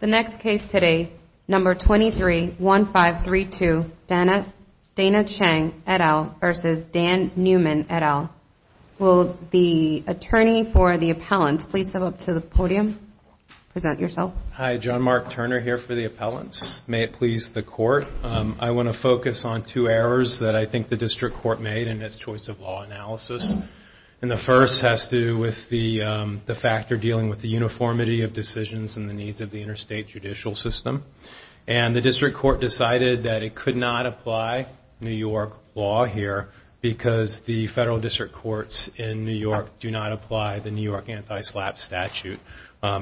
The next case today, No. 23-1532, Dana Chang et al. v. Dan Neumann et al. Will the attorney for the appellant please step up to the podium and present yourself? Hi, John Mark Turner here for the appellant. May it please the Court, I want to focus on two errors that I think the District Court made in its choice of law analysis. The first has to do with the factor dealing with the uniformity of decisions and the needs of the interstate judicial system. And the District Court decided that it could not apply New York law here because the Federal District Courts in New York do not apply the New York Anti-SLAPP statute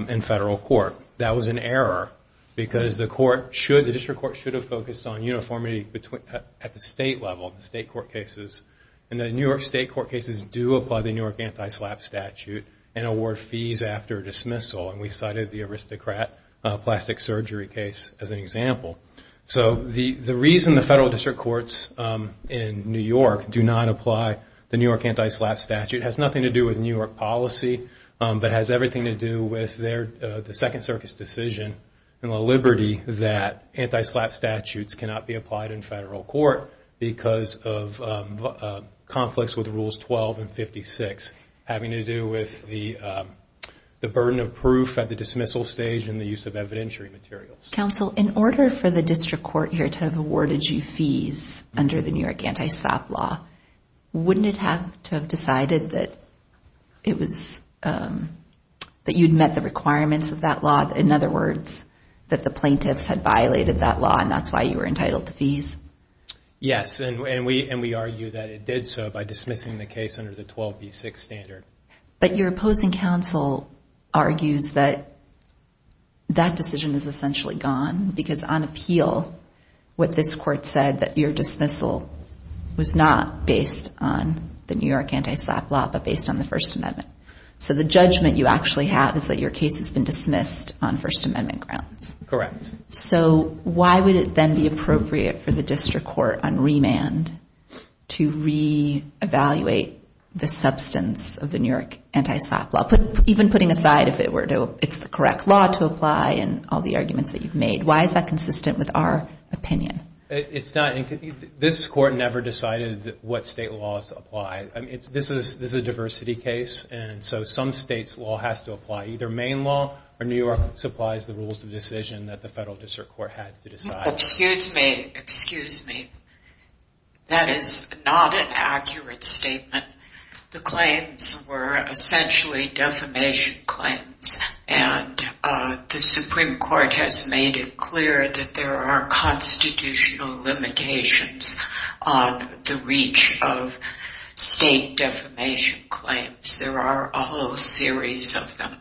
in Federal Court. That was an error because the District Court should have focused on uniformity at the State level, the State court cases. And the New York State court cases do apply the New York Anti-SLAPP statute and award fees after dismissal. And we cited the aristocrat plastic surgery case as an example. So the reason the Federal District Courts in New York do not apply the New York Anti-SLAPP statute has nothing to do with New York policy, but has everything to do with the Second Circus decision and the liberty that Anti-SLAPP statutes cannot be applied in Federal Court because of conflicts with Rules 12 and 56, having to do with the burden of proof at the dismissal stage and the use of evidentiary materials. Counsel, in order for the District Court here to have awarded you fees under the New York Anti-SLAPP law, wouldn't it have to have decided that it was, that you'd met the requirements of that law? In other words, that the plaintiffs had violated that law and that's why you were entitled to fees? Yes, and we argue that it did so by dismissing the case under the 12B6 standard. But your opposing counsel argues that that decision is essentially gone because on appeal, what this court said, that your dismissal was not based on the New York Anti-SLAPP law, but based on the First Amendment. So the judgment you actually have is that your case has been dismissed on First Amendment grounds. Correct. So why would it then be appropriate for the District Court on remand to re-evaluate the substance of the New York Anti-SLAPP law? Even putting aside if it's the correct law to apply and all the arguments that you've made, why is that consistent with our opinion? It's not. This court never decided what state laws apply. This is a diversity case and so some state's law has to apply. Either Maine law or New York supplies the rules of decision that the Federal District Court has to decide. Excuse me, excuse me. That is not an accurate statement. The claims were essentially defamation claims and the Supreme Court has made it clear that there are constitutional limitations on the reach of state defamation claims. There are a whole series of them.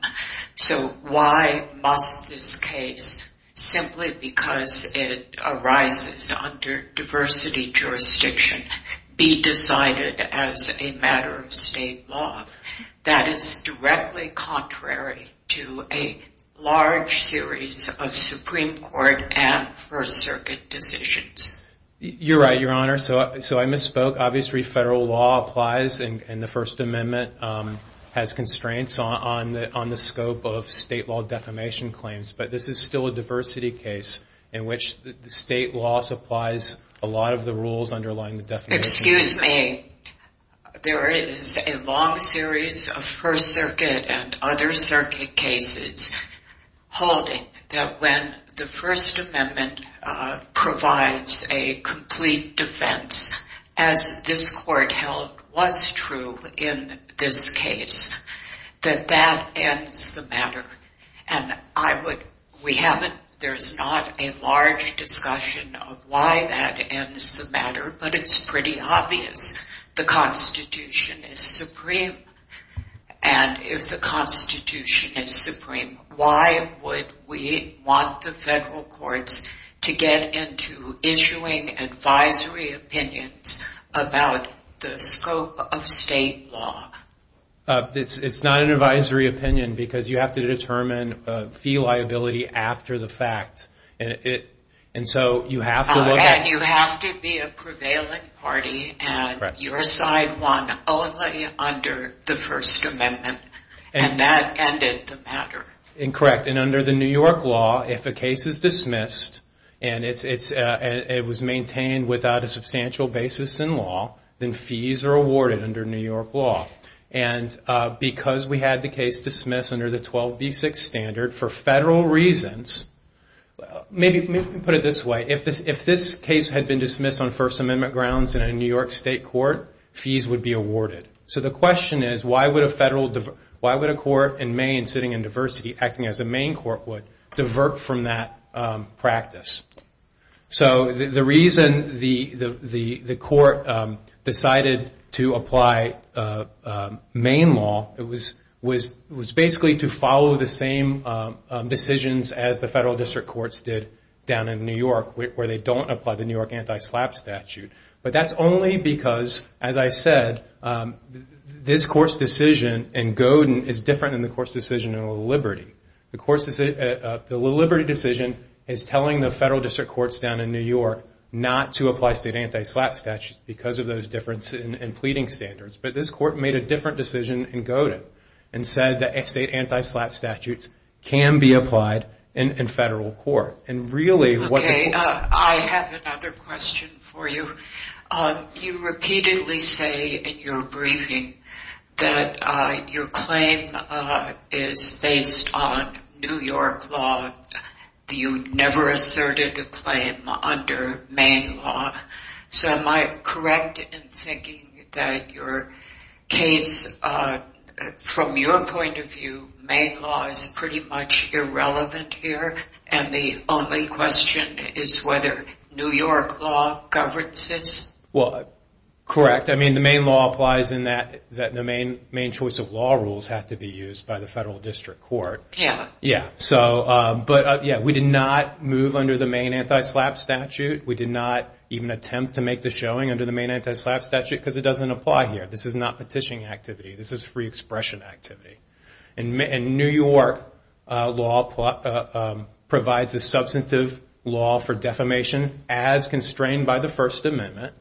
So why must this case, simply because it arises under diversity jurisdiction, be decided as a matter of state law that is directly contrary to a large series of Supreme Court and First Circuit decisions? You're right, Your Honor. So I misspoke. Obviously federal law applies and the First Amendment has constraints on the scope of state law defamation claims, but this is still a diversity case in which the state law supplies a lot of the rules underlying the defamation. Excuse me. There is a long series of First Circuit and other circuit cases holding that when the First Amendment provides a complete defense, as this court held was true in the case, that that ends the matter. We haven't, there's not a large discussion of why that ends the matter, but it's pretty obvious. The Constitution is supreme and if the Constitution is supreme, why would we want the federal courts to get into issuing advisory opinions about the scope of state law? It's not an advisory opinion because you have to determine a fee liability after the fact. And you have to be a prevailing party and your side won only under the First Amendment and that ended the matter. Correct. And under the New York law, if a case is dismissed and it was maintained without a substantial basis in law, then fees are awarded under New York law. And because we had the case dismissed under the 12b6 standard for federal reasons, maybe put it this way, if this case had been dismissed on First Amendment grounds in a New York state court, fees would be awarded. So the question is, why would a federal, why would a court in Maine sitting in diversity acting as a Maine court would divert from that practice? So the reason the court decided to apply Maine law was basically to follow the same decisions as the federal district courts did down in New York where they don't apply the New York anti-slap statute. But that's only because, as I said, this court's decision in Godin is different than the court's decision in Laliberte. The Laliberte decision is telling the federal district courts down in New York not to apply state anti-slap statutes because of those differences in pleading standards. But this court made a different decision in Godin and said that state anti-slap statutes can be applied in federal court. And really what... Okay. I have another question for you. You repeatedly say in your briefing that your claim is based on New York law. You never asserted a claim under Maine law. So am I correct in thinking that your case, from your point of view, Maine law is pretty much irrelevant here? And the only question is whether New York law governs this? Well, correct. I mean the Maine choice of law rules have to be used by the federal district court. Yeah. But yeah, we did not move under the Maine anti-slap statute. We did not even attempt to make the showing under the Maine anti-slap statute because it doesn't apply here. This is not petitioning activity. This is free expression activity. And New York law provides a substantive law for defamation as constrained by the First Amendment.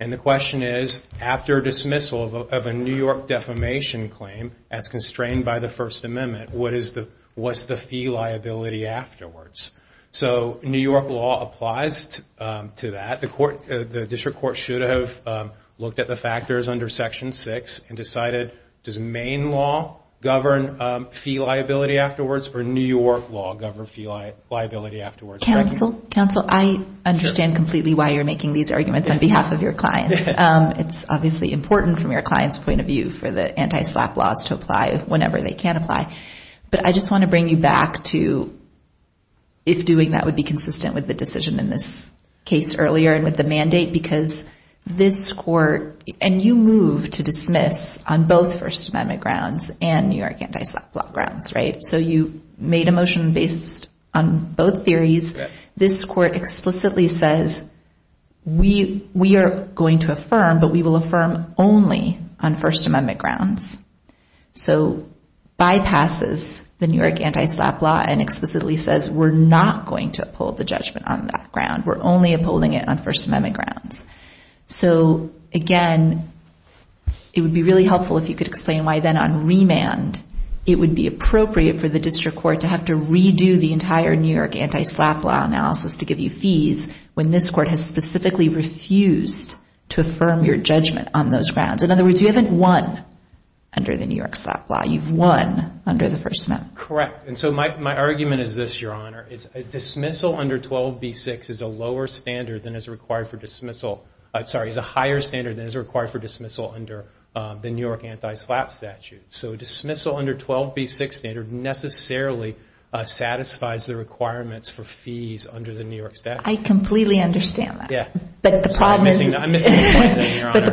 And the question is, after dismissal of a New York defamation claim as constrained by the First Amendment, what's the fee liability afterwards? So New York law applies to that. The district court should have looked at the factors under Section 6 and decided, does Maine law govern fee liability afterwards or New York law govern fee liability afterwards? Counsel, I understand completely why you're making these arguments on behalf of your clients. It's obviously important from your client's point of view for the anti-slap laws to apply whenever they can apply. But I just want to bring you back to if doing that would be consistent with the decision in this case earlier and with the mandate because this court, and you move to dismiss on both First Amendment grounds and New York anti-slap law grounds, right? So you made a motion based on both theories. This court explicitly says, we are going to affirm, but we will affirm only on First Amendment grounds. So bypasses the New York anti-slap law and explicitly says we're not going to uphold the judgment on that ground. We're only upholding it on First Amendment grounds. So again, it would be really helpful if you could explain why then on remand, it would be appropriate for the district court to have to redo the entire New York anti-slap law analysis to give you fees when this court has specifically refused to affirm your judgment on those grounds. In other words, you haven't won under the New York slap law. You've won under the First Amendment. Correct. And so my argument is this, Your Honor, is a dismissal under 12B6 is a lower standard than is required for dismissal. I'm sorry, is a higher standard than is required for dismissal under the New York anti-slap statute. So dismissal under 12B6 standard necessarily satisfies the requirements for fees under the New York statute. I completely understand that. But the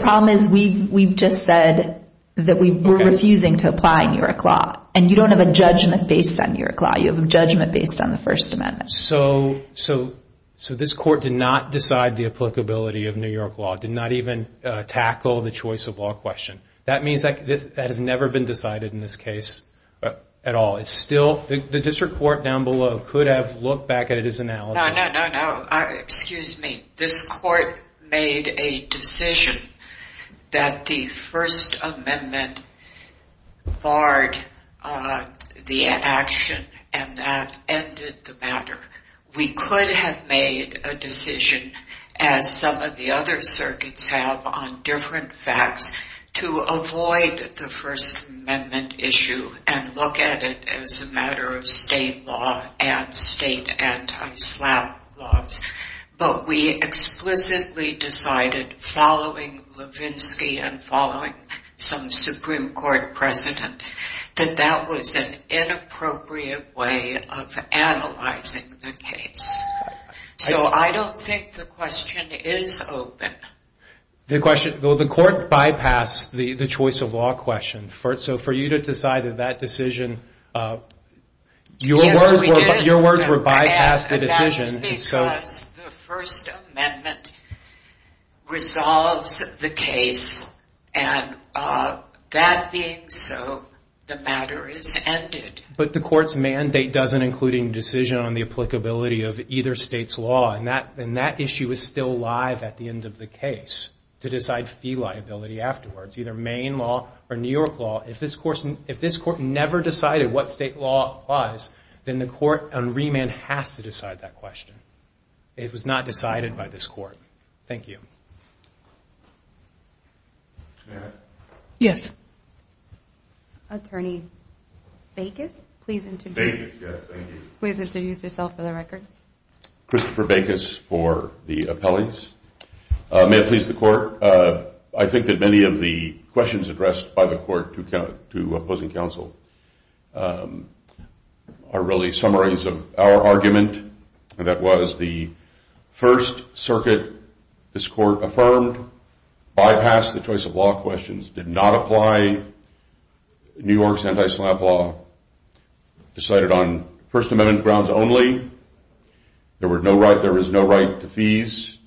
problem is we've just said that we were refusing to apply New York law and you don't have a judgment based on New York law. You have a judgment based on the First Amendment. So this court did not decide the applicability of New York law, did not even tackle the choice of law question. That means that has never been decided in this case at all. It's still, the district court down below could have looked back at his analysis. No, no, no, no. Excuse me. This court made a decision that the First Amendment barred the action and that ended the matter. We could have made a decision as some of the other circuits have on different facts to avoid the First Amendment issue and look at it as a matter of state law and state anti-slap laws. But we explicitly decided following Levinsky and following some Supreme Court precedent that that was an inappropriate way of analyzing the case. So I don't think the question is open. The question, the court bypassed the choice of law question. So for you to decide that that decision, your words were bypassed the decision. Yes, we did. And that's because the First Amendment resolves the case and that being so, the matter is ended. But the court's mandate doesn't include any decision on the applicability of either state's law. And that issue is still live at the end of the case to decide fee liability afterwards, either Maine law or New York law. If this court never decided what state law was, then the court on remand has to decide that question. It was not decided by this court. Thank you. Yes. Attorney Bacus, please introduce yourself for the record. Christopher Bacus for the appellees. May it please the court, I think that many of the questions addressed by the court to opposing counsel are really summaries of our argument. And that was the First Circuit, this court affirmed, bypassed the choice of law questions, did not apply New York's anti-slap law, decided on First Amendment grounds only. There was no right to fees.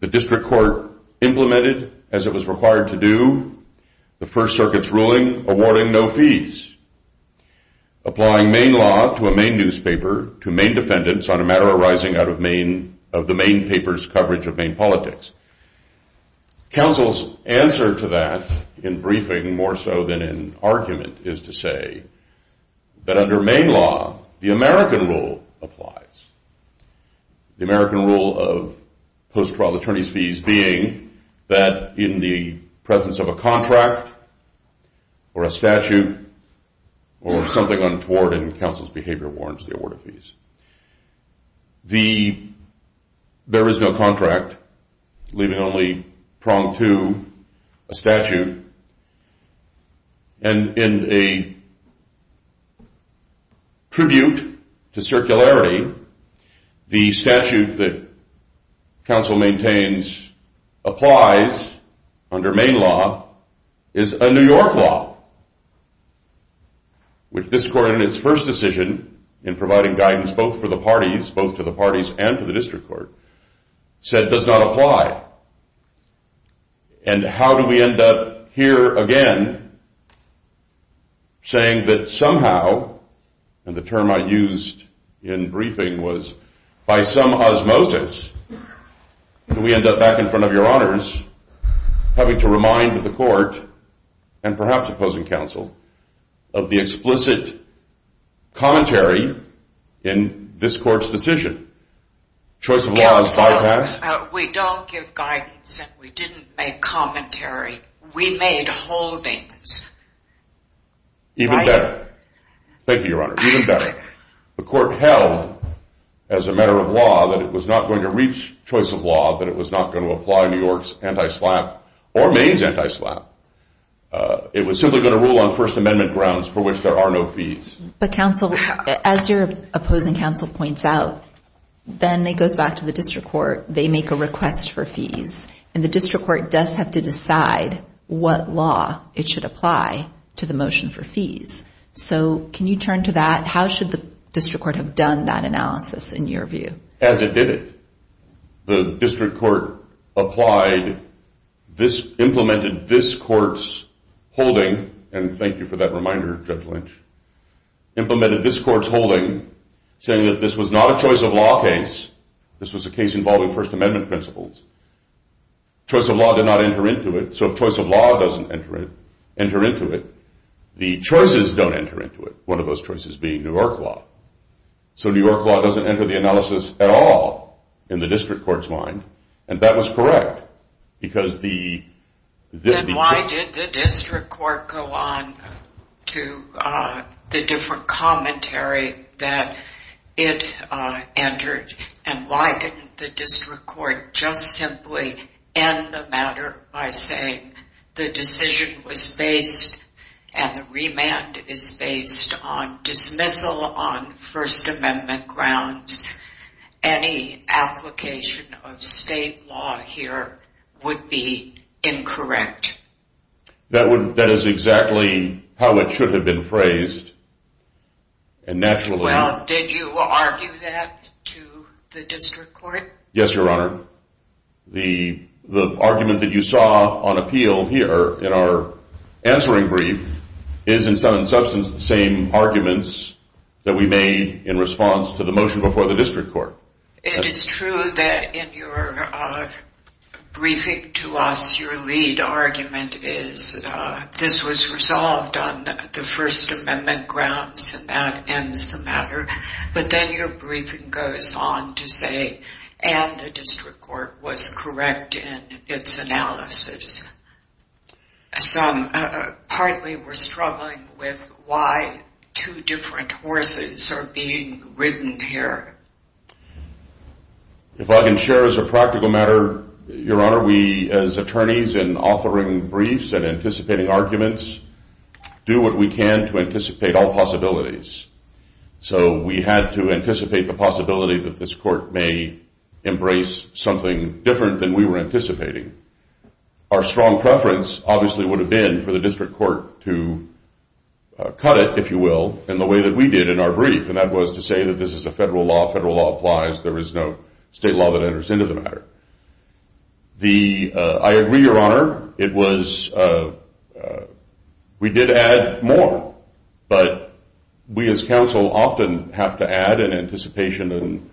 The district court implemented as it was required to do, the First Circuit's ruling awarding no fees. Applying Maine law to a Maine newspaper, to Maine defendants on a matter arising out of the Maine paper's politics. Counsel's answer to that in briefing more so than in argument is to say that under Maine law, the American rule applies. The American rule of post-trial attorney's fees being that in the presence of a contract or a statute or something untoward in counsel's life, leaving only prong to a statute, and in a tribute to circularity, the statute that counsel maintains applies under Maine law is a New York law, which this court in its first decision in providing guidance both for the parties, both to the parties and to counsel, does apply. And how do we end up here again saying that somehow, and the term I used in briefing was by some osmosis, we end up back in front of your honors having to remind the court, and perhaps opposing counsel, of the explicit commentary in this case. We don't give guidance and we didn't make commentary. We made holdings. Even better. Thank you, your honor. Even better. The court held, as a matter of law, that it was not going to reach choice of law, that it was not going to apply New York's anti-SLAPP or Maine's anti-SLAPP. It was simply going to rule on First Amendment grounds for which there are no fees. But counsel, as your opposing counsel points out, then it goes back to the district court. They make a request for fees. And the district court does have to decide what law it should apply to the motion for fees. So can you turn to that? How should the district court have done that analysis in your view? As it did it. The district court applied, implemented this court's holding, and thank God it was a choice of law case. This was a case involving First Amendment principles. Choice of law did not enter into it. So if choice of law doesn't enter into it, the choices don't enter into it. One of those choices being New York law. So New York law doesn't enter the analysis at all in the district court's mind. And that was correct. Because the... Then why did the district court go on to the different commentary that it entered? And why didn't the district court just simply end the matter by saying the decision was based and the remand is based on dismissal on First Amendment grounds? Any application of state law here would be incorrect. That is exactly how it should have been phrased. And naturally... Well, did you argue that to the district court? Yes, Your Honor. The argument that you saw on appeal here in our answering brief is in some substance the same arguments that we made in response to the motion before the district court. It is true that in your briefing to us, your lead argument is this was resolved on the First Amendment grounds and that ends the matter. But then your briefing goes on to say and the district court was correct in its analysis. So partly we're struggling with why two different horses are being ridden here. If I can share as a practical matter, Your Honor, we as attorneys in authoring briefs and anticipating arguments do what we can to anticipate all possibilities. So we had to anticipate the possibility that this court may embrace something different than we were anticipating. Our strong preference obviously would have been for the district court to cut it, if you will, in the way that we did in our brief. And that was to say that this is a federal law. Federal law applies. There is no state law that enters into the matter. I agree, Your Honor. We did add more, but we as counsel often have to add in anticipation.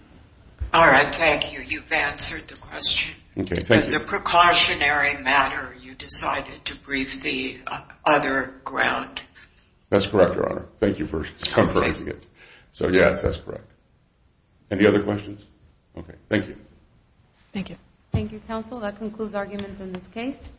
All right. Thank you. You've answered the question. Okay. Thank you. As a precautionary matter, you decided to brief the other ground. That's correct, Your Honor. Thank you for summarizing it. So yes, that's correct. Any other questions? Okay. Thank you. Thank you. Thank you, counsel. That concludes arguments in this case.